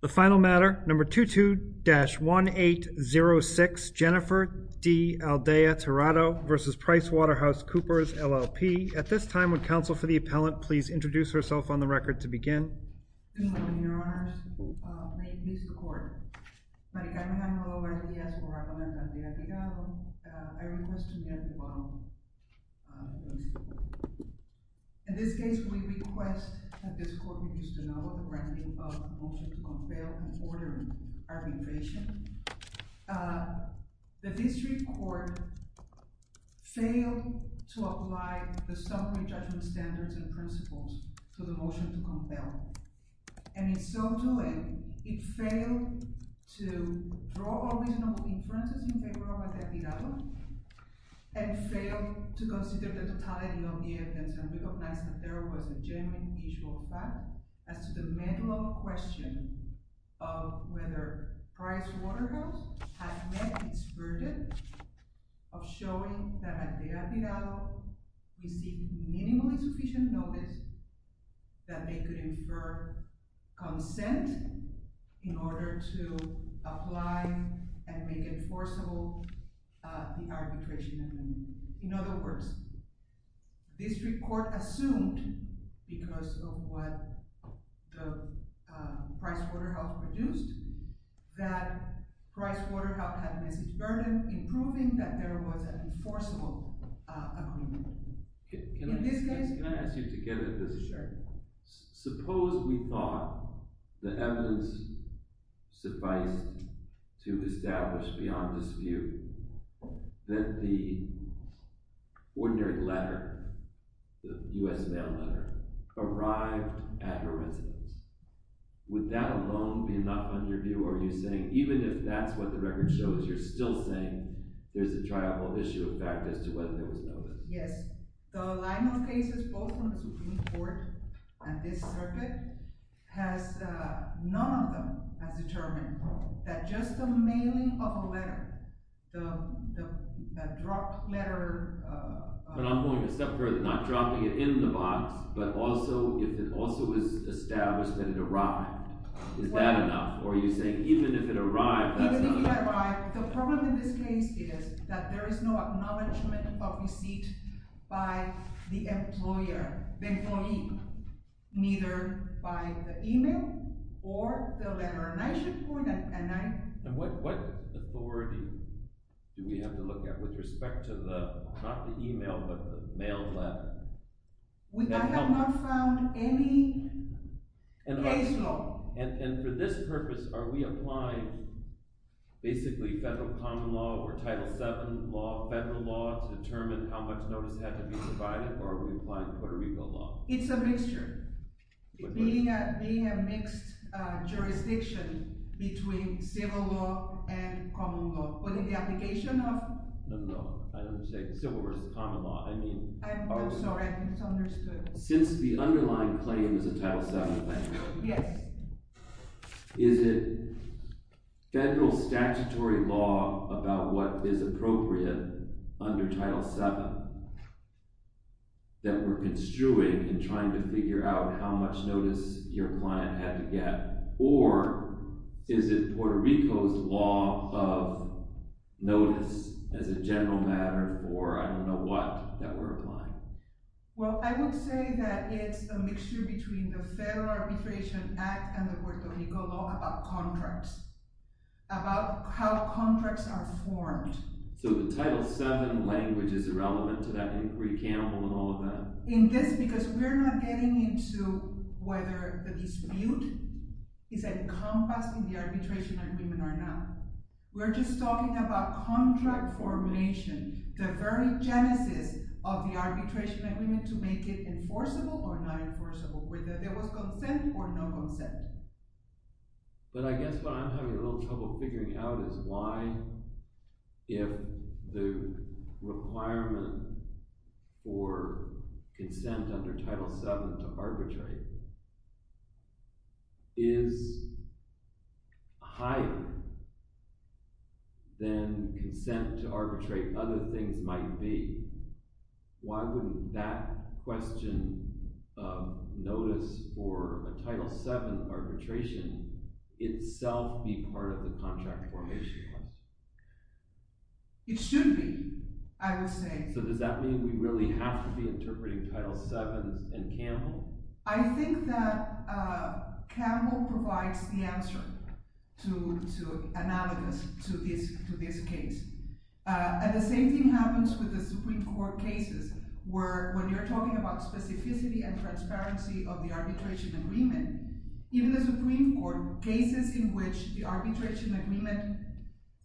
The final matter, number 22-1806, Jennifer D. Aldea-Tirado v. PricewaterhouseCoopers, LLP. At this time, would counsel for the appellant please introduce herself on the record to begin. Good morning, your honors. May it please the court. My name is Monica Alejandro and I request to be at the bottom. In this case, we request that this court reduce the number of granting of the motion to compel and order arbitration. The district court failed to apply the summary judgment standards and principles to the motion to compel. And in so doing, it failed to draw all reasonable inferences in favor of Aldea-Tirado and failed to consider the totality of the evidence. And we hope that there was a genuine visual fact as to the mental question of whether Pricewaterhouse had met its verdict of showing that at Aldea-Tirado, we see minimally sufficient notice that they could infer consent in order to apply and make enforceable the arbitration. In other words, the district court assumed, because of what Pricewaterhouse produced, that Pricewaterhouse had met its verdict in proving that there was an enforceable agreement. Can I ask you to get at this? Sure. Suppose we thought the evidence sufficed to establish beyond dispute that the ordinary letter, the U.S. mail letter, arrived at her residence. Would that alone be enough under view, or are you saying even if that's what the record shows, you're still saying there's a triumphal issue of fact as to whether there was no evidence? Yes. The line of cases, both from the Supreme Court and this circuit, none of them has determined that just the mailing of a letter, the dropped letter… But I'm going a step further. Not dropping it in the box, but also if it also is established that it arrived. Is that enough? Or are you saying even if it arrived, that's not enough? Even if it arrived, the problem in this case is that there is no acknowledgement of receipt by the employer, neither by the email or the letter. And what authority do we have to look at with respect to the, not the email, but the mail letter? I have not found any case law. And for this purpose, are we applying basically federal common law or Title VII law, federal law, to determine how much notice had to be provided, or are we applying Puerto Rico law? It's a mixture. Being a mixed jurisdiction between civil law and common law. But in the application of… No, no. I don't say civil versus common law. I mean… Oh, sorry. I misunderstood. Since the underlying claim is a Title VII claim. Yes. Is it federal statutory law about what is appropriate under Title VII that we're construing in trying to figure out how much notice your client had to get? Or is it Puerto Rico's law of notice as a general matter, or I don't know what, that we're applying? Well, I would say that it's a mixture between the Federal Arbitration Act and the Puerto Rico law about contracts. About how contracts are formed. So the Title VII language is irrelevant to that inquiry, Campbell, and all of that? In this, because we're not getting into whether the dispute is encompassed in the arbitration agreement or not. We're just talking about contract formation. The very genesis of the arbitration agreement to make it enforceable or not enforceable. Whether there was consent or no consent. But I guess what I'm having a little trouble figuring out is why, if the requirement for consent under Title VII to arbitrate is higher than consent to arbitrate other things might be, why wouldn't that question of notice for a Title VII arbitration itself be part of the contract formation clause? It should be, I would say. So does that mean we really have to be interpreting Title VII and Campbell? I think that Campbell provides the answer to analogous to this case. And the same thing happens with the Supreme Court cases where, when you're talking about specificity and transparency of the arbitration agreement, even the Supreme Court, cases in which the arbitration agreement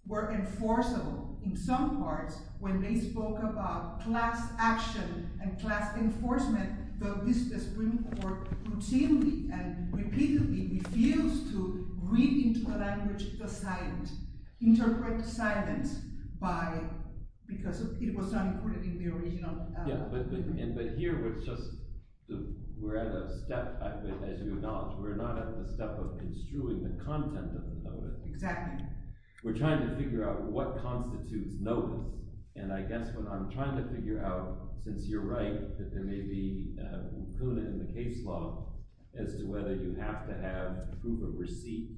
were enforceable in some parts when they spoke about class action and class enforcement, the Supreme Court routinely and repeatedly refused to read into the language the silent, interpret the silence because it was not included in the original. But here we're at a step, as you acknowledge, we're not at the step of construing the content of the notice. Exactly. We're trying to figure out what constitutes notice. And I guess what I'm trying to figure out, since you're right that there may be a prudent in the case law as to whether you have to have proof of receipt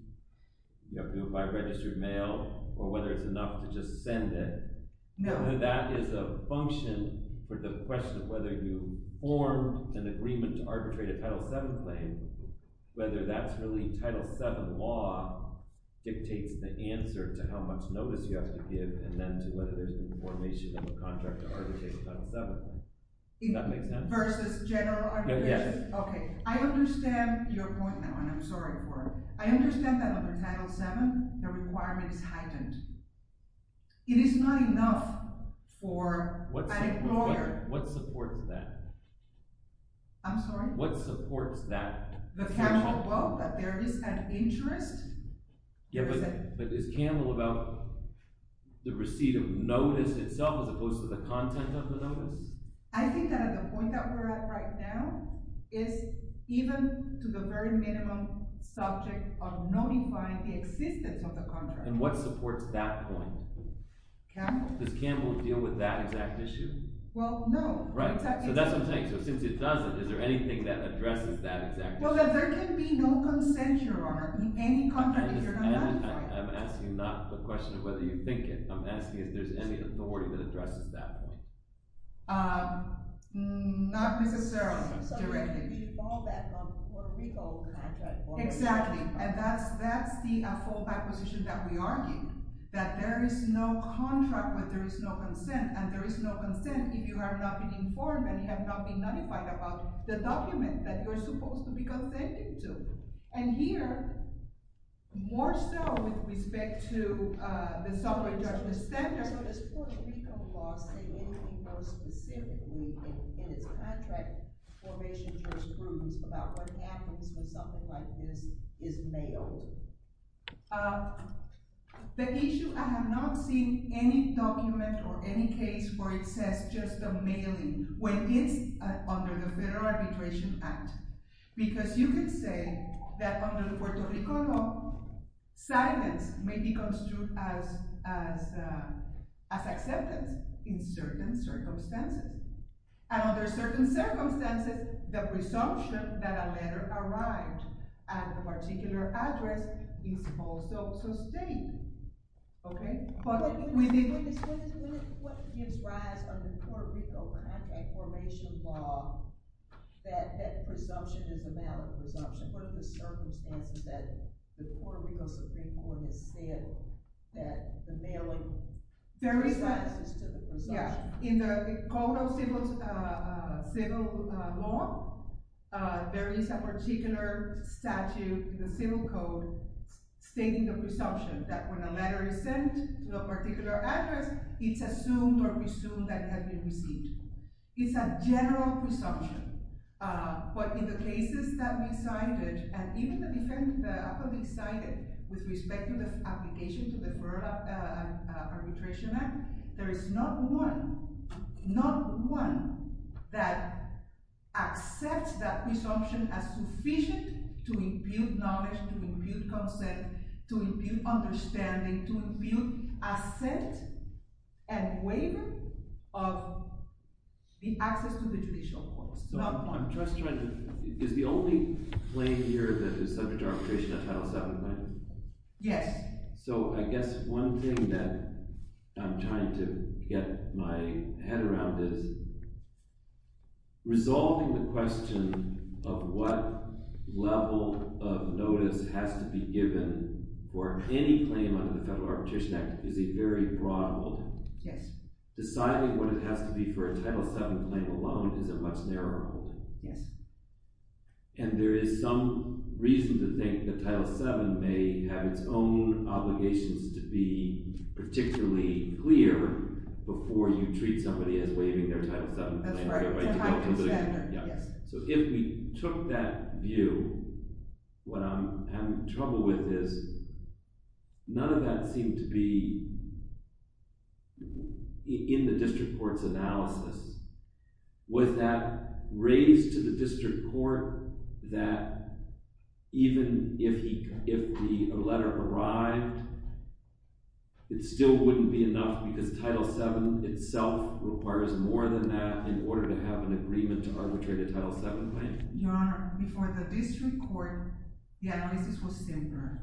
by registered mail or whether it's enough to just send it. No. That is a function for the question of whether you form an agreement to arbitrate a Title VII claim, whether that's really Title VII law dictates the answer to how much notice you have to give, and then to whether there's information in the contract to arbitrate a Title VII claim. That makes sense. Versus general arbitration? Yes. Okay. I understand your point now, and I'm sorry for it. I understand that under Title VII, the requirement is heightened. It is not enough for an employer. What supports that? I'm sorry? What supports that? The casual quote that there is an interest? Yeah, but is Campbell about the receipt of notice itself as opposed to the content of the notice? I think that at the point that we're at right now is even to the very minimum subject of notifying the existence of the contract. And what supports that point? Campbell? Does Campbell deal with that exact issue? Well, no. Right. So that's what I'm saying. So since it doesn't, is there anything that addresses that exact issue? Well, there can be no consent, Your Honor, in any contract if you're not notified. I'm asking not the question of whether you think it. I'm asking if there's any authority that addresses that point. Not necessarily, directly. So there could be a fallback for a legal contract. Exactly. And that's the fallback position that we argue, that there is no contract where there is no consent, and there is no consent if you have not been informed and have not been notified about the document that you're supposed to be authentic to. And here, more so with respect to the subway judgment standard. Your Honor, so does Puerto Rico law say anything more specifically in its contract formation jurisprudence about what happens when something like this is mailed? The issue, I have not seen any document or any case where it says just the mailing when it's under the Federal Arbitration Act. Because you could say that under Puerto Rico law, silence may be construed as acceptance in certain circumstances. And under certain circumstances, the presumption that a letter arrived at a particular address is also sustained. What gives rise under Puerto Rico contract formation law that that presumption is a valid presumption? What are the circumstances that the Puerto Rico Supreme Court has said that the mailing is a valid presumption? In the code of civil law, there is a particular statute in the civil code stating the presumption that when a letter is sent to a particular address, it's assumed or presumed that it has been received. It's a general presumption. But in the cases that we cited, and even the defendants that have been cited with respect to the application to the Arbitration Act, there is not one that accepts that presumption as sufficient to impute knowledge, to impute consent, to impute understanding, to impute assent and waiver of the access to the judicial courts. Is the only claim here that is subject to arbitration a Title VII claim? Yes. So I guess one thing that I'm trying to get my head around is resolving the question of what level of notice has to be given for any claim under the Federal Arbitration Act is a very broad one. Yes. Deciding what it has to be for a Title VII claim alone is a much narrower one. Yes. And there is some reason to think that Title VII may have its own obligations to be particularly clear before you treat somebody as waiving their Title VII claim. That's right. So if we took that view, what I'm having trouble with is none of that seemed to be in the district court's analysis. Was that raised to the district court that even if the letter arrived, it still wouldn't be enough because Title VII itself requires more than that in order to have an agreement to arbitrate a Title VII claim? Your Honor, before the district court, the analysis was simpler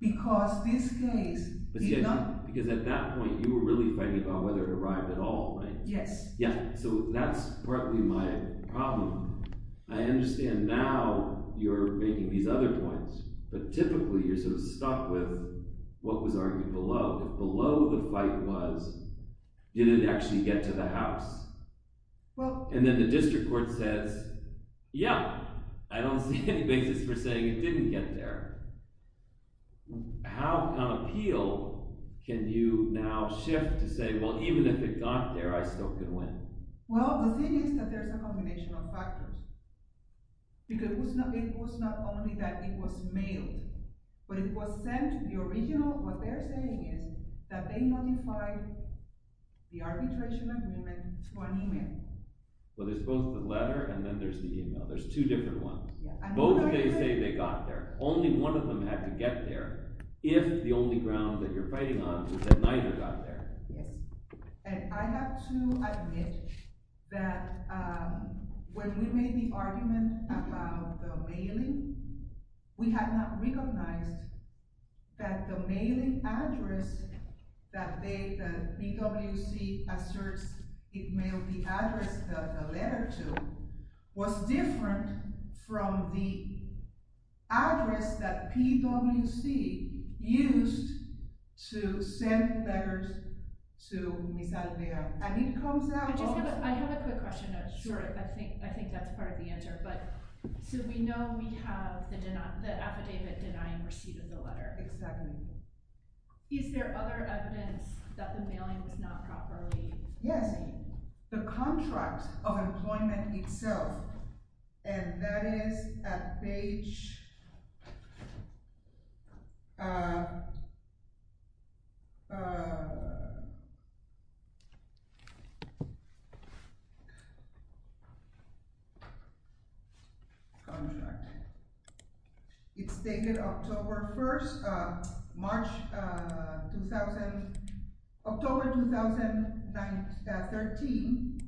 because this case did not… Because at that point, you were really fighting about whether it arrived at all, right? Yes. Yeah, so that's partly my problem. I understand now you're making these other points, but typically you're sort of stuck with what was argued below. If below the fight was, did it actually get to the House? Well… And then the district court says, yeah, I don't see any basis for saying it didn't get there. How, on appeal, can you now shift to say, well, even if it got there, I still could win? Well, the thing is that there's a combination of factors because it was not only that it was mailed, but it was sent to the original… What they're saying is that they modified the arbitration agreement to an email. Well, there's both the letter and then there's the email. There's two different ones. Both they say they got there. Only one of them had to get there if the only ground that you're fighting on is that neither got there. Yes. And I have to admit that when we made the argument about the mailing, we had not recognized that the mailing address that the BWC asserts it mailed the address, the letter to, was different from the address that PWC used to send letters to Ms. Alvear. And it comes out… I have a quick question. Sure. I think that's part of the answer. So we know we have the affidavit denying receipt of the letter. Exactly. Is there other evidence that the mailing was not properly… Yes. The contract of employment itself, and that is at page… Contract. It's dated October 1st, March 2000, October 2013,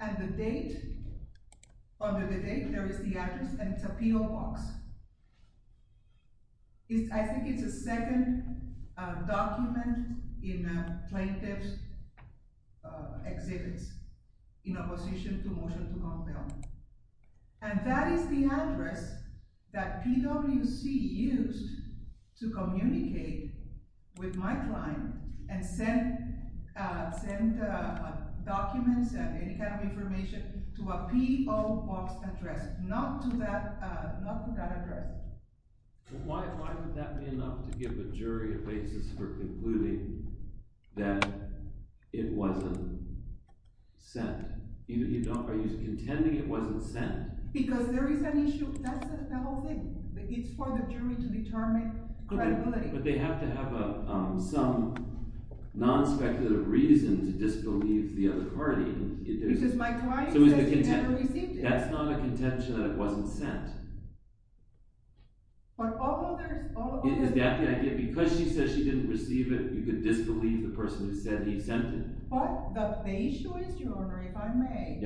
and the date, under the date, there is the address, and it's a P.O. box. I think it's a second document in plaintiff's exhibits in opposition to motion to compel. And that is the address that PWC used to communicate with my client and send documents and any kind of information to a P.O. box address, not to that address. Why would that be enough to give a jury a basis for concluding that it wasn't sent? Even if you don't… Are you contending it wasn't sent? Because there is an issue. That's the whole thing. It's for the jury to determine credibility. But they have to have some non-speculative reason to disbelieve the other party. Because my client says he never received it. That's not a contention that it wasn't sent. But although there's… Is that the idea? Because she says she didn't receive it, you could disbelieve the person who said he sent it. But the issue is, Your Honor, if I may,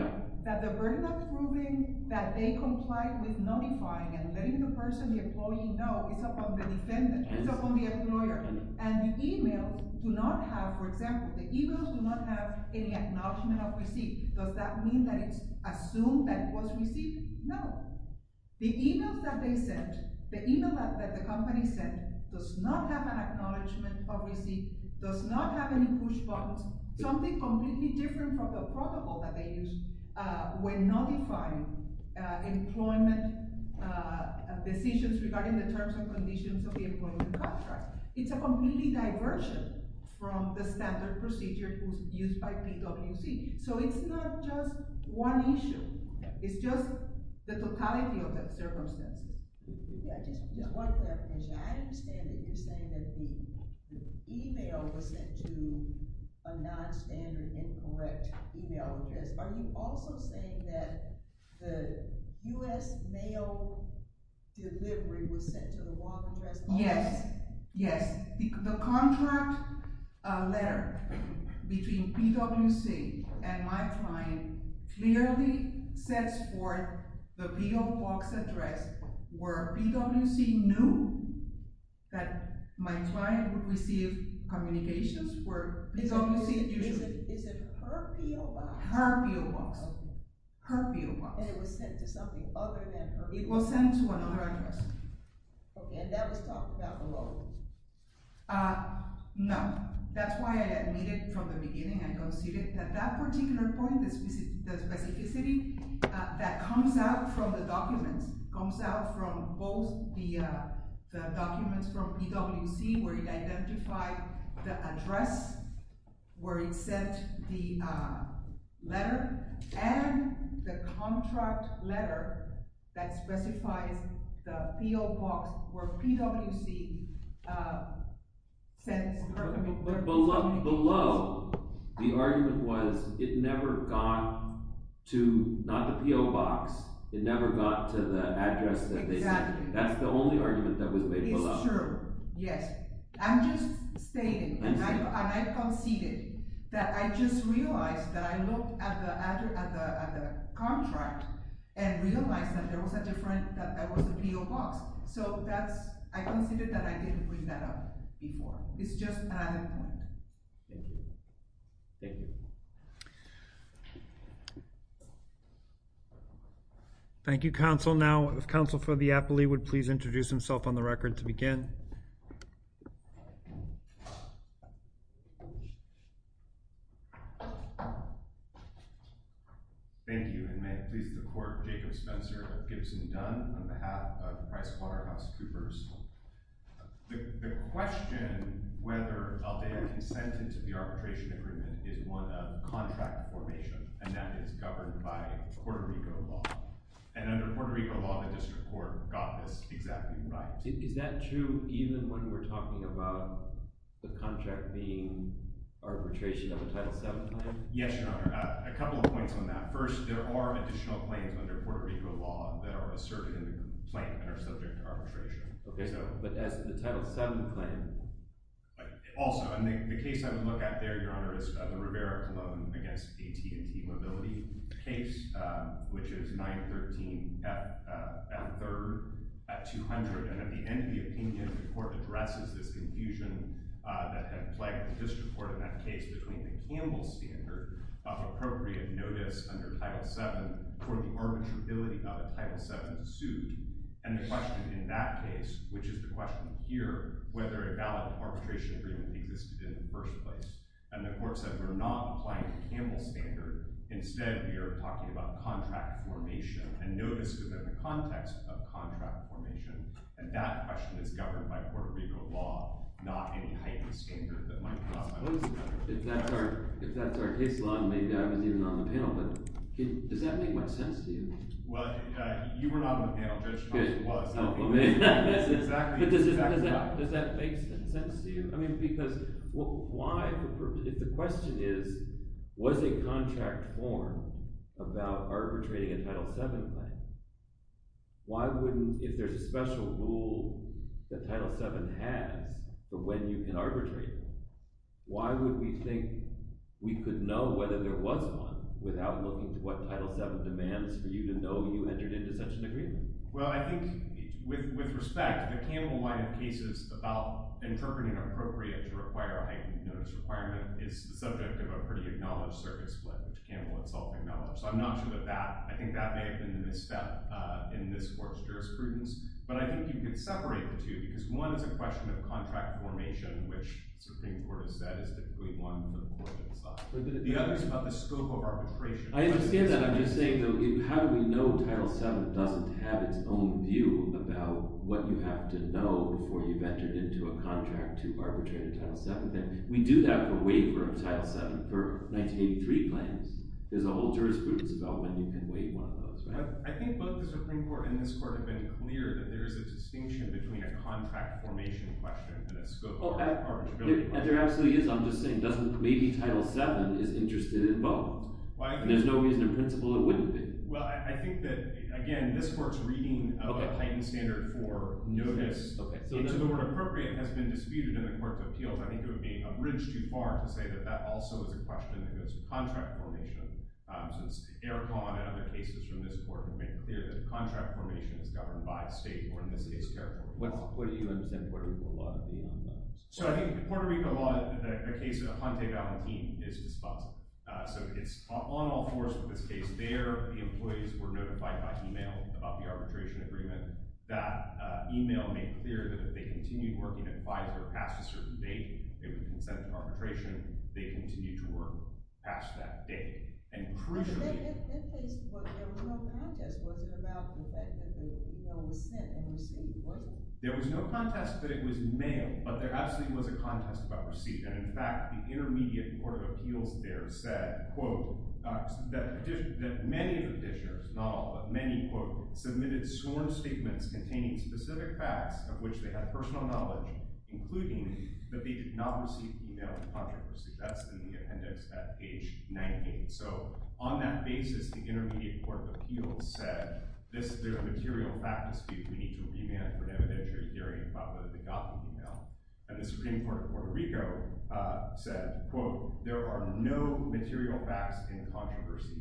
that the verdict of proving that they complied with notifying and letting the person, the employee, know is upon the defendant. It's upon the employer. And the e-mail do not have, for example, the e-mails do not have any acknowledgment of receipt. Does that mean that it's assumed that it was received? No. The e-mails that they sent, the e-mail that the company sent, does not have an acknowledgment of receipt, does not have any push buttons. Something completely different from the protocol that they used when notifying employment decisions regarding the terms and conditions of the employment contract. It's a completely diversion from the standard procedure used by PWC. So it's not just one issue. It's just the totality of the circumstances. Just one clarification. I understand that you're saying that the e-mail was sent to a nonstandard, incorrect e-mail address. Are you also saying that the U.S. mail delivery was sent to the wrong address? Yes. Yes. The contract letter between PWC and my client clearly sets forth the P.O. Box address where PWC knew that my client would receive communications where PWC usually. Is it her P.O. Box? Her P.O. Box. Okay. Her P.O. Box. And it was sent to something other than her P.O. Box? It was sent to another address. Okay. And that was talked about below? No. That's why I admitted from the beginning. I conceded that that particular point, the specificity that comes out from the documents, comes out from both the documents from PWC where it identified the address where it sent the letter and the contract letter that specifies the P.O. Box where PWC sent— But below, the argument was it never got to—not the P.O. Box. It never got to the address that they sent. Exactly. That's the only argument that was made below. It's true. Yes. I'm just stating, and I conceded, that I just realized that I looked at the contract and realized that there was a P.O. Box. So I conceded that I didn't bring that up before. It's just another point. Thank you. Thank you. Thank you, Counsel. Now, if Counsel for the Appellee would please introduce himself on the record to begin. Thank you, and may it please the Court, Jacob Spencer of Gibson Dunn, on behalf of PricewaterhouseCoopers. The question whether Aldea consented to the arbitration agreement is one of contract formation, and that is governed by Puerto Rico law. And under Puerto Rico law, the district court got this exactly right. Is that true even when we're talking about the contract being arbitration of a Title VII claim? Yes, Your Honor. A couple of points on that. First, there are additional claims under Puerto Rico law that are asserted in the complaint that are subject to arbitration. Okay, but as to the Title VII claim— Also, the case I would look at there, Your Honor, is the Rivera-Colomb against AT&T Mobility case, which is 913 at 3rd at 200. And at the end of the opinion, the court addresses this confusion that had plagued the district court in that case between the Campbell standard of appropriate notice under Title VII for the arbitrability of a Title VII suit and the question in that case, which is the question here, whether a valid arbitration agreement existed in the first place. And the court said we're not applying the Campbell standard. Instead, we are talking about contract formation and notice within the context of contract formation. And that question is governed by Puerto Rico law, not any heightened standard that might be offered. If that's our case law, maybe I wasn't even on the panel, but does that make much sense to you? Well, you were not on the panel. But does that make sense to you? I mean, because why—the question is, was a contract formed about arbitrating a Title VII claim? Why wouldn't—if there's a special rule that Title VII has for when you can arbitrate, why would we think we could know whether there was one without looking to what Title VII demands for you to know you entered into such an agreement? Well, I think with respect, the Campbell-wide cases about interpreting appropriate to require a heightened notice requirement is the subject of a pretty acknowledged circuit split, which Campbell himself acknowledged. So I'm not sure that that—I think that may have been a misstep in this court's jurisprudence. But I think you could separate the two because one is a question of contract formation, which the Supreme Court has said is typically one on the more liberal side. The other is about the scope of arbitration. I understand that. I'm just saying, though, how do we know Title VII doesn't have its own view about what you have to know before you've entered into a contract to arbitrate a Title VII claim? We do that for waiver of Title VII for 1983 claims. There's a whole jurisprudence about when you can waive one of those, right? I think both the Supreme Court and this court have been clear that there is a distinction between a contract formation question and a scope of arbitrability question. There absolutely is. I'm just saying maybe Title VII is interested in both. There's no reason in principle it wouldn't be. Well, I think that, again, this court's reading of a heightened standard for notice, into the word appropriate, has been disputed in the court's appeals. I think it would be a bridge too far to say that that also is a question that goes to contract formation. Since Eric Vaughn and other cases from this court have made clear that contract formation is governed by a state or, in this case, California law. What do you understand Puerto Rico law to be on that? So I think Puerto Rico law, the case of Jante Valentin, is responsive. So it's on all fours in this case. There, the employees were notified by email about the arbitration agreement. That email made clear that if they continued working at Pfizer past a certain date, they would consent to arbitration. They continued to work past that date. But in that case, there was no contest. It wasn't about the fact that the email was sent and received, was it? There was no contest that it was mailed, but there absolutely was a contest about receipt. And, in fact, the Intermediate Court of Appeals there said, quote, that many of the petitioners, not all, but many, quote, submitted sworn statements containing specific facts of which they had personal knowledge, including that they did not receive email from contractors. That's in the appendix at page 19. So on that basis, the Intermediate Court of Appeals said this is a material fact dispute. We need to remand it for never that you're hearing about whether they got the email. And the Supreme Court of Puerto Rico said, quote, there are no material facts in controversy.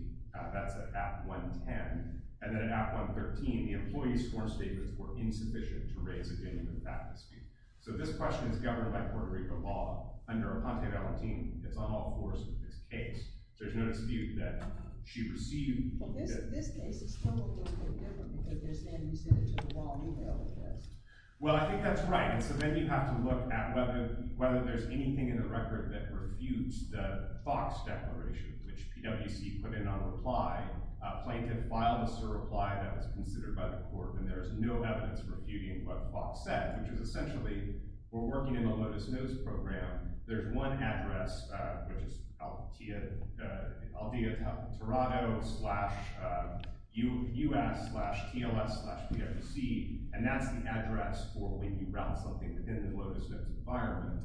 That's at Act 110. And then at Act 113, the employees' sworn statements were insufficient to raise a genuine fact dispute. So this question is governed by Puerto Rico law under a Conte Valentin. It's on all fours in this case. There's no dispute that she received – Well, this case is totally different. If they're saying you sent it to the wrong email address. Well, I think that's right. So then you have to look at whether there's anything in the record that refutes the FOX declaration, which PwC put in on reply. Plaintiff filed us a reply that was considered by the court, and there is no evidence refuting what FOX said, which is essentially we're working in a Lotus Nose program. There's one address, which is aldea.toronto.com. And that's the address for when you route something within the Lotus Nose environment.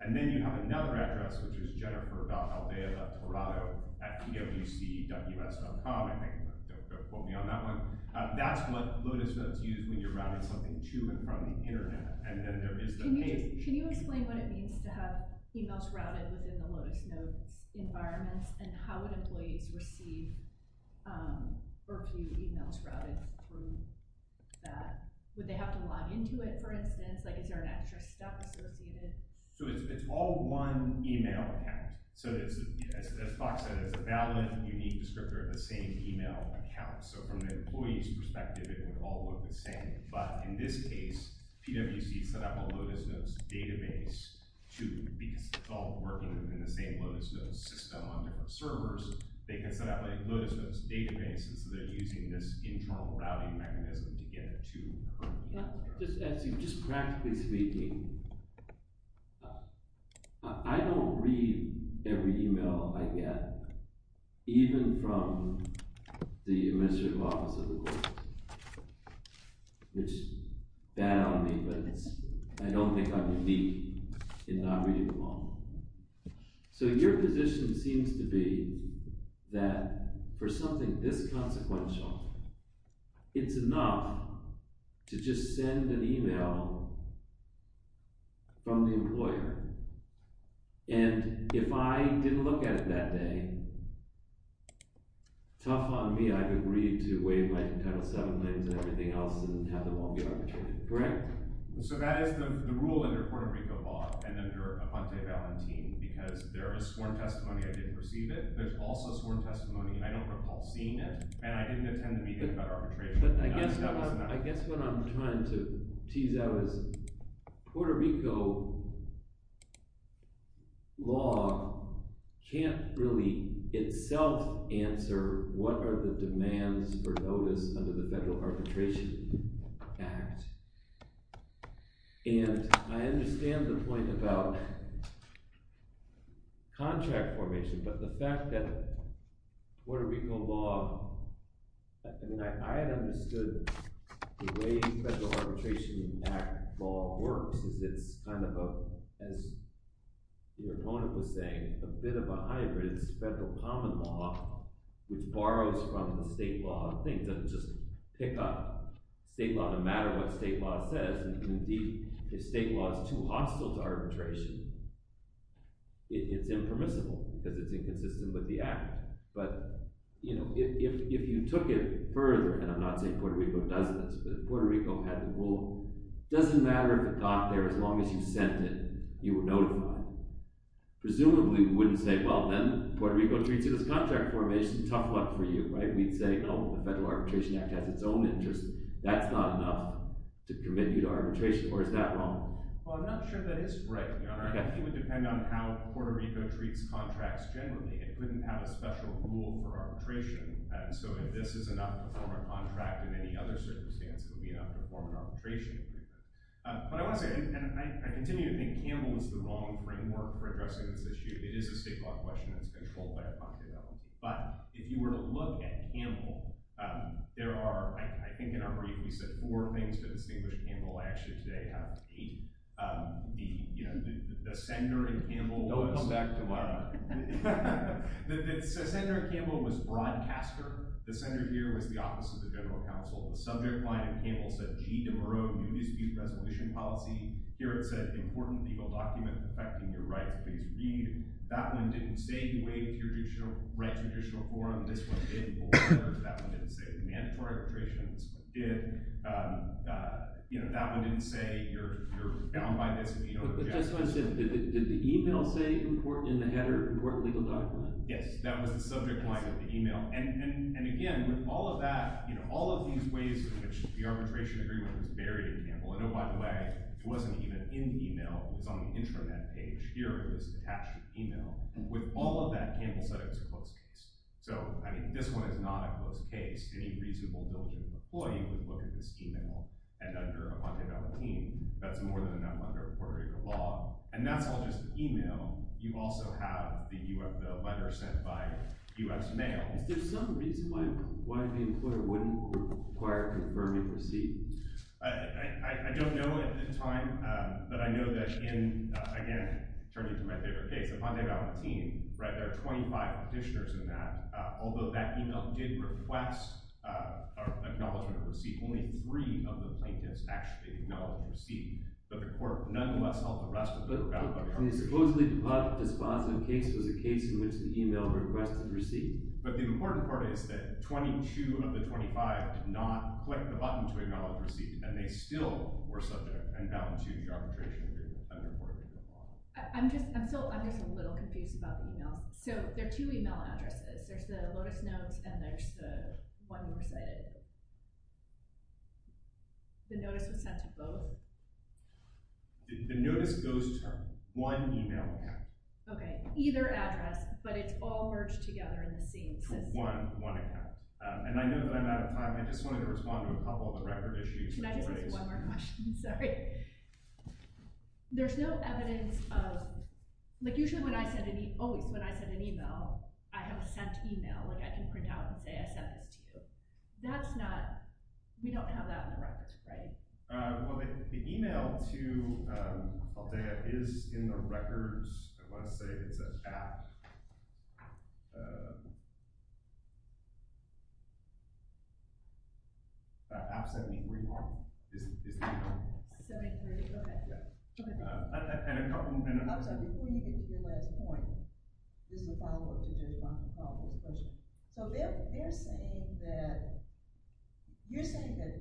And then you have another address, which is jennifer.aldea.toronto.com. Don't quote me on that one. That's what Lotus Nose used when you're routing something to and from the internet. Can you explain what it means to have emails routed within the Lotus Nose environment, and how would employees receive or view emails routed from that? Would they have to log into it, for instance? Is there an extra step associated? So it's all one email account. So as FOX said, it's a valid, unique descriptor of the same email account. So from an employee's perspective, it would all look the same. But in this case, PwC set up a Lotus Nose database, too, because it's all working within the same Lotus Nose system on different servers. They can set up a Lotus Nose database, and so they're using this internal routing mechanism to get it to the current email address. Just practically speaking, I don't read every email I get, even from the administrative office of the court, which is bad on me, but I don't think I'm unique in not reading them all. So your position seems to be that for something this consequential, it's enough to just send an email from the employer. And if I didn't look at it that day, tough on me. I've agreed to waive my Title VII claims and everything else and have them all be arbitrated. Correct? So that is the rule under Puerto Rico law and under Amante Valentin, because there is sworn testimony I didn't receive it. There's also sworn testimony I don't recall seeing it, and I didn't attend the meeting about arbitration. I guess what I'm trying to tease out is Puerto Rico law can't really itself answer what are the demands for Lotus under the Federal Arbitration Act. And I understand the point about contract formation, but the fact that Puerto Rico law, and I had understood the way the Federal Arbitration Act law works, is it's kind of a, as your opponent was saying, a bit of a hybrid. It's federal common law, which borrows from the state law. It doesn't just pick up state law no matter what state law says. It's impermissible because it's inconsistent with the act. But if you took it further, and I'm not saying Puerto Rico doesn't, but if Puerto Rico had the rule, it doesn't matter if it got there, as long as you sent it, you were notified. Presumably we wouldn't say, well, then Puerto Rico treats it as contract formation. Tough luck for you, right? We'd say, oh, the Federal Arbitration Act has its own interests. That's not enough to permit you to arbitration, or is that wrong? Well, I'm not sure that is right, Your Honor. I think it would depend on how Puerto Rico treats contracts generally. It wouldn't have a special rule for arbitration. So if this is enough to form a contract in any other circumstance, it would be enough to form an arbitration agreement. But I want to say, and I continue to think Campbell is the wrong framework for addressing this issue. It is a state law question, and it's controlled by a party to that one. But if you were to look at Campbell, there are, I think in our brief, we said four things to distinguish Campbell. I actually today have eight. The Senator in Campbell was – Don't come back tomorrow. The Senator in Campbell was a broadcaster. The Senator here was the Office of the General Counsel. The subject line in Campbell said, G. de Mereau, New Dispute Resolution Policy. Here it said, Important Legal Document Affecting Your Rights. Please read. That one didn't say you wait until you write a judicial forum. This one did before. That one didn't say mandatory arbitration. This one did. That one didn't say you're bound by this if you don't reject it. Did the email say important in the header, important legal document? Yes, that was the subject line of the email. And again, with all of that – all of these ways in which the arbitration agreement was buried in Campbell – I know, by the way, it wasn't even in the email. It was on the intranet page. Here it was attached to email. With all of that, Campbell said it was a closed case. So, I mean, this one is not a closed case. Any reasonable military employee would look at this email. And under Epon de Valentin, that's more than enough under Puerto Rico law. And that's all just email. You also have the letter sent by U.S. mail. Is there some reason why the employer wouldn't require a confirming receipt? I don't know at the time, but I know that in – again, turning to my favorite case, Epon de Valentin, right? There are 25 petitioners in that. Although that email did request an acknowledgement of receipt, only three of the plaintiffs actually acknowledged receipt. But the court nonetheless held the rest of them accountable. But the supposedly debunked despondent case was a case in which the email requested receipt. But the important part is that 22 of the 25 did not click the button to acknowledge receipt, and they still were subject and bound to the arbitration agreement under Puerto Rico law. I'm just a little confused about the emails. So there are two email addresses. There's the Lotus Notes, and there's the one you recited. The notice was sent to both? The notice goes to one email account. Okay, either address, but it's all merged together in the same system. One account. And I know that I'm out of time. I just wanted to respond to a couple of the record issues. Can I just ask one more question? Sorry. There's no evidence of – Usually when I send an email, I have a sent email. I can print out and say I sent this to you. That's not – we don't have that on the records, right? Well, the email to Aldea is in the records. I want to say it's an app. App 731. Go ahead. Before you get to your last point, this is a follow-up to your response to Paula's question. So they're saying that – you're saying that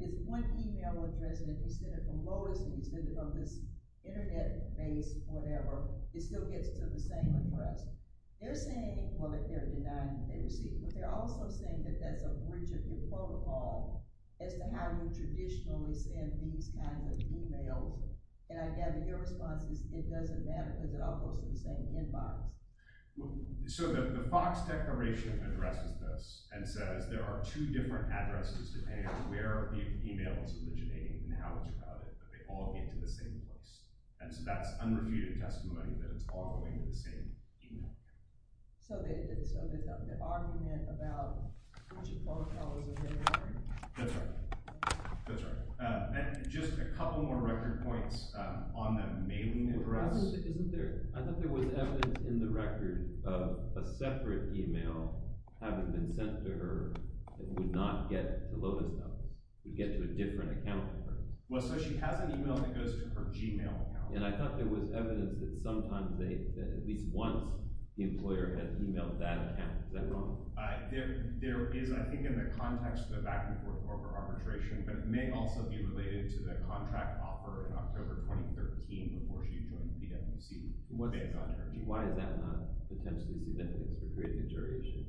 it's one email address, and it was sent from Lotus, and it was sent from this Internet base or whatever. It still gets to the same request. They're saying – well, they're denying it. But they're also saying that that's a rigid protocol as to how you traditionally send these kinds of emails. And I gather your response is it doesn't matter because they're all posted the same inbox. So the FOX declaration addresses this and says there are two different addresses depending on where the email is originating and how it's routed, but they all get to the same place. And so that's unrefuted testimony that it's all going to the same email. So it's an argument about which protocols are very important. That's right. That's right. And just a couple more record points on the mailing address. Isn't there – I thought there was evidence in the record of a separate email having been sent to her that would not get to Lotus numbers. It would get to a different account number. Well, so she has an email that goes to her Gmail account. And I thought there was evidence that sometimes they – that at least once the employer has emailed that account. Is that wrong? There is, I think, in the context of the back-and-forth broker arbitration, but it may also be related to the contract offer in October 2013 before she joined the NFC based on her email. Why is that not potentially significant for creating a jury issue?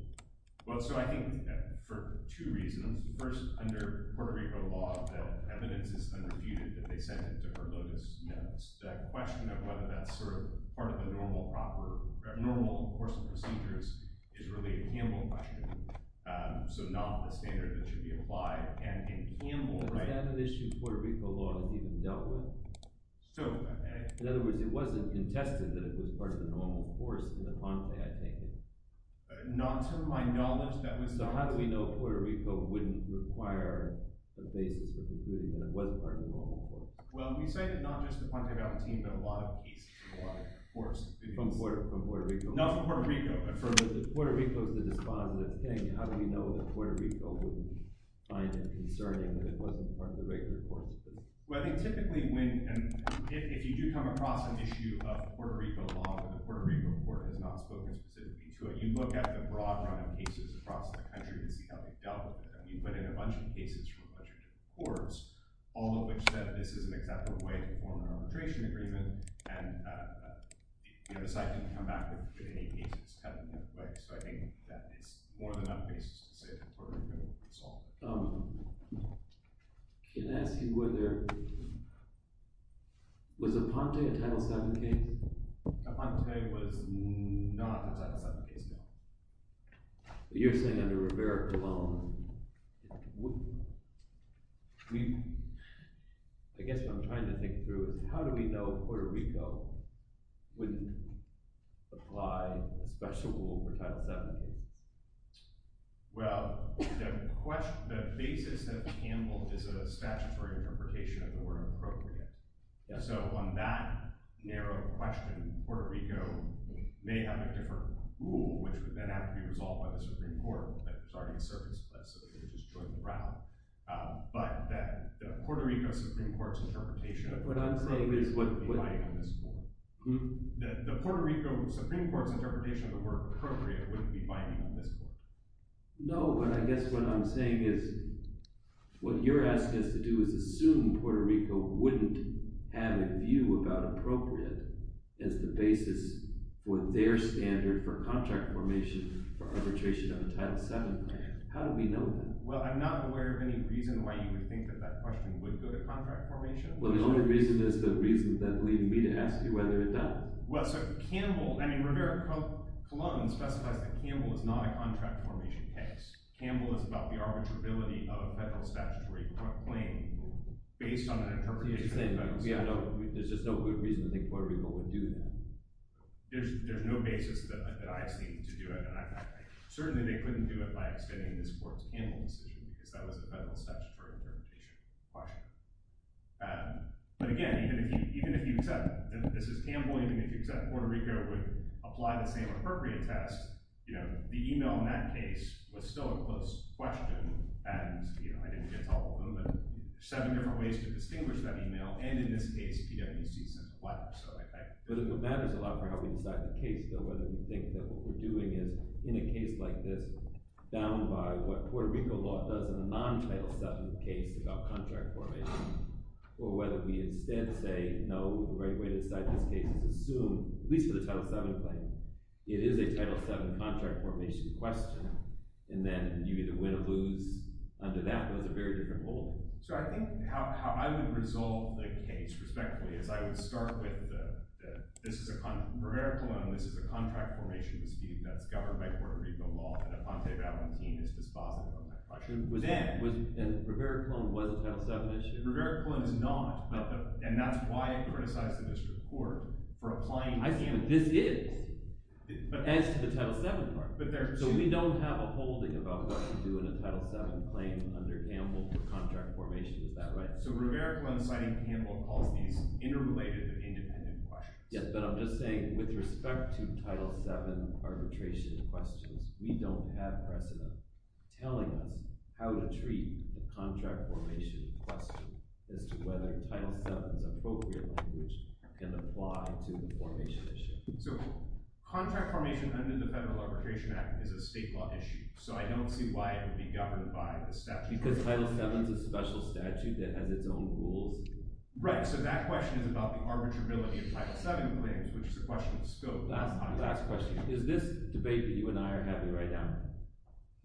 Well, so I think for two reasons. First, under Puerto Rico law, the evidence is unrefuted that they sent it to her Lotus numbers. The question of whether that's sort of part of the normal course of procedures is really a Campbell question, so not the standard that should be applied. And in Campbell – But that issue in Puerto Rico law is even dealt with. So – In other words, it wasn't contested that it was part of the normal course in the contract making. Not to my knowledge, that was – Well, how do we know Puerto Rico wouldn't require a basis for the jury when it wasn't part of the normal course? Well, we say that not just the Puente Valentin, but a lot of cases in a lot of courts – From Puerto Rico? Not from Puerto Rico, but from – But if Puerto Rico is the despondent thing, how do we know that Puerto Rico wouldn't find it concerning that it wasn't part of the regular course? Well, I think typically when – if you do come across an issue of Puerto Rico law, the Puerto Rico court has not spoken specifically to it. You look at the broad run of cases across the country and see how they've dealt with it. I mean, you put in a bunch of cases from a bunch of different courts, all of which said this is an acceptable way to form an arbitration agreement, and the site didn't come back with any cases telling that way. So I think that it's more than enough basis to say that Puerto Rico can solve it. Can I ask you whether – was the Puente a Title VII case? The Puente was not a Title VII case, no. But you're saying under Roberto Colón. I mean, I guess what I'm trying to think through is how do we know Puerto Rico wouldn't apply a special rule for Title VII cases? Well, the basis of Campbell is a statutory interpretation of the word appropriate. So on that narrow question, Puerto Rico may have a different rule, which would then have to be resolved by the Supreme Court, starting a service place so that they could just join the rally. But the Puerto Rico Supreme Court's interpretation of the word appropriate wouldn't be binding on this point. The Puerto Rico Supreme Court's interpretation of the word appropriate wouldn't be binding on this point. No, but I guess what I'm saying is what you're asking us to do is assume Puerto Rico wouldn't have a view about appropriate as the basis for their standard for contract formation for arbitration on a Title VII claim. How do we know that? Well, I'm not aware of any reason why you would think that that question would go to contract formation. Well, the only reason is the reason that's leading me to ask you whether it does. Well, so Campbell – I mean, Rivera-Colón specifies that Campbell is not a contract formation case. Campbell is about the arbitrability of a federal statutory claim based on an interpretation. There's just no good reason to think Puerto Rico would do that. There's no basis that I see to do it, and certainly they couldn't do it by extending this court's Campbell decision But again, even if you accept – and this is Campbell – even if you accept Puerto Rico would apply the same appropriate test, the email in that case was still a close question, and I didn't get to all of them, but there's seven different ways to distinguish that email, and in this case, DWC said what. But it matters a lot for how we decide the case, though, whether you think that what we're doing is, in a case like this, bound by what Puerto Rico law does in a non-Title VII case about contract formation, or whether we instead say, no, the right way to decide this case is assume, at least for the Title VII claim, it is a Title VII contract formation question, and then you either win or lose. Under that, there's a very different rule. So I think how I would resolve the case, respectively, is I would start with this is a – Rivera-Colón, this is a contract formation dispute that's governed by Puerto Rico law, and Aponte Valentin is dispositive on that question. And Rivera-Colón was a Title VII issue? Rivera-Colón is not, and that's why I criticized the district court for applying – I think this is, as to the Title VII part. So we don't have a holding about what to do in a Title VII claim under Campbell for contract formation. Is that right? So Rivera-Colón citing Campbell calls these interrelated but independent questions. Yes, but I'm just saying with respect to Title VII arbitration questions, we don't have precedent telling us how to treat the contract formation question as to whether Title VII's appropriate language can apply to the formation issue. So contract formation under the Federal Arbitration Act is a state law issue, so I don't see why it would be governed by the statute. Because Title VII is a special statute that has its own rules? Right, so that question is about the arbitrability of Title VII claims, which is a question of scope. Last question. Is this debate that you and I are having right now,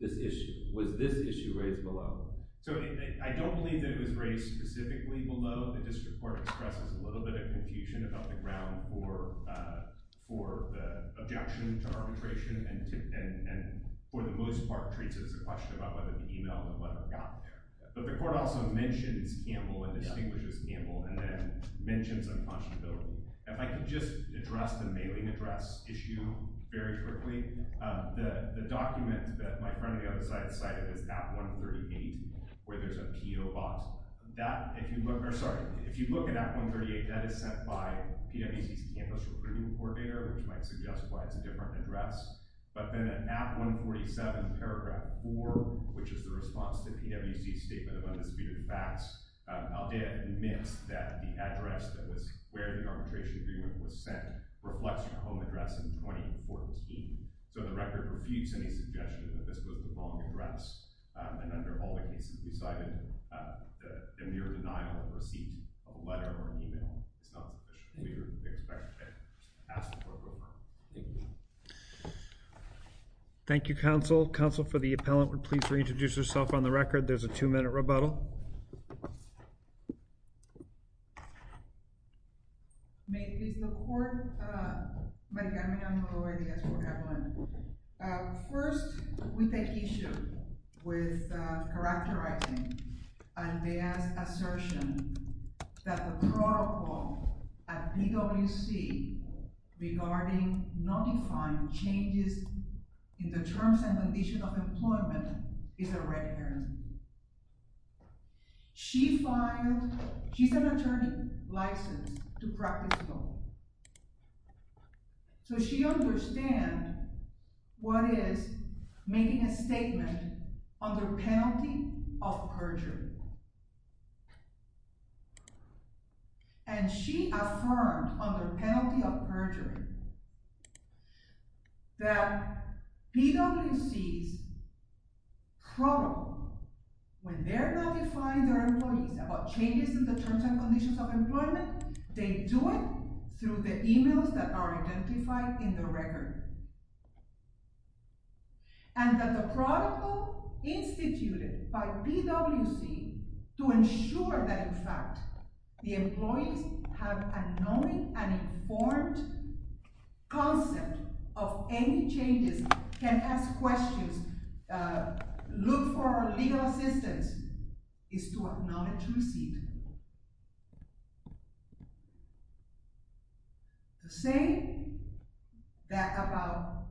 this issue, was this issue raised below? So I don't believe that it was raised specifically below. The district court expresses a little bit of confusion about the ground for the objection to arbitration, and for the most part treats it as a question about whether the email and whatever got there. But the court also mentions Campbell and distinguishes Campbell and then mentions unconscionability. If I could just address the mailing address issue very quickly. The document that my friend on the other side cited is Act 138, where there's a PO box. If you look at Act 138, that is sent by PwC's campus recruiting coordinator, which might suggest why it's a different address. But then in Act 147, paragraph 4, which is the response to PwC's statement of undisputed facts, Aldea admits that the address that was where the arbitration agreement was sent reflects your home address in 2014. So the record refutes any suggestion that this was the wrong address, and under all the cases we cited, the mere denial of receipt of a letter or an email is not sufficient. Thank you. Thank you, counsel. Counsel, for the appellant, we're pleased to reintroduce herself on the record. There's a two-minute rebuttal. May it please the court. My name is Margarita Evelin. First, we take issue with characterizing Aldea's assertion that the protocol at PwC regarding notifying changes in the terms and conditions of employment is a red herring. She's an attorney licensed to practice law. So she understands what is making a statement under penalty of perjury. And she affirmed under penalty of perjury that PwC's protocol, when they're notifying their employees about changes in the terms and conditions of employment, they do it through the emails that are identified in the record, and that the protocol instituted by PwC to ensure that, in fact, the employees have a knowing and informed concept of any changes, can ask questions, look for legal assistance, is to acknowledge receipt. The same about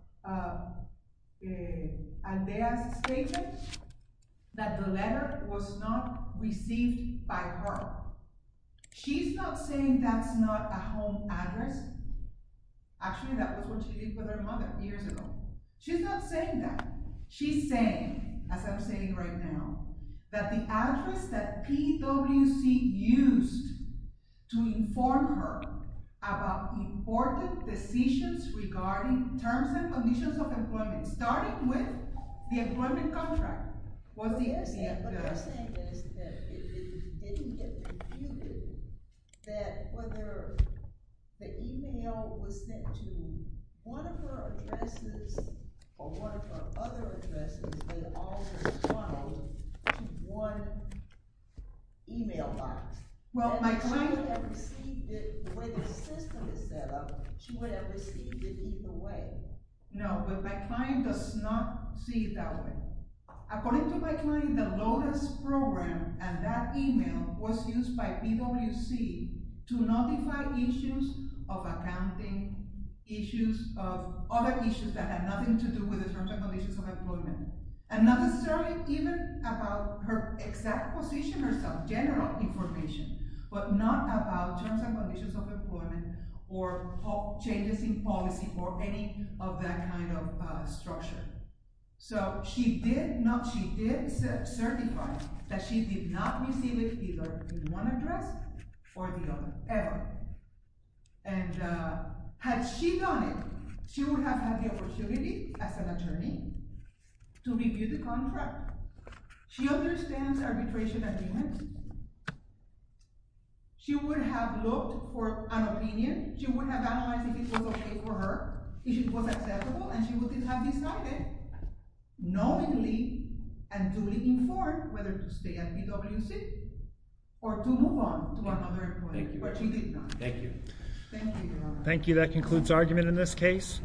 Aldea's statement that the letter was not received by her. She's not saying that's not a home address. Actually, that was where she lived with her mother years ago. She's not saying that. She's saying, as I'm saying right now, that the address that PwC used to inform her about important decisions regarding terms and conditions of employment, starting with the employment contract, was the address. What I'm saying is that it didn't get computed that whether the email was sent to one of her addresses or one of her other addresses, they all were funneled to one email box. If she would have received it the way the system is set up, she would have received it either way. No, but my client does not see it that way. According to my client, the Lotus program and that email was used by PwC to notify issues of accounting, issues of other issues that had nothing to do with the terms and conditions of employment, and not necessarily even about her exact position herself, general information, but not about terms and conditions of employment or changes in policy or any of that kind of structure. So she did certify that she did not receive it either in one address or the other, ever. And had she done it, she would have had the opportunity as an attorney to review the contract. She understands arbitration agreements. She would have analyzed if it was okay for her, if it was acceptable, and she would have decided knowingly and duly informed whether to stay at PwC or to move on to another employment. But she did not. Thank you. Thank you, Your Honor. Thank you. That concludes argument in this case.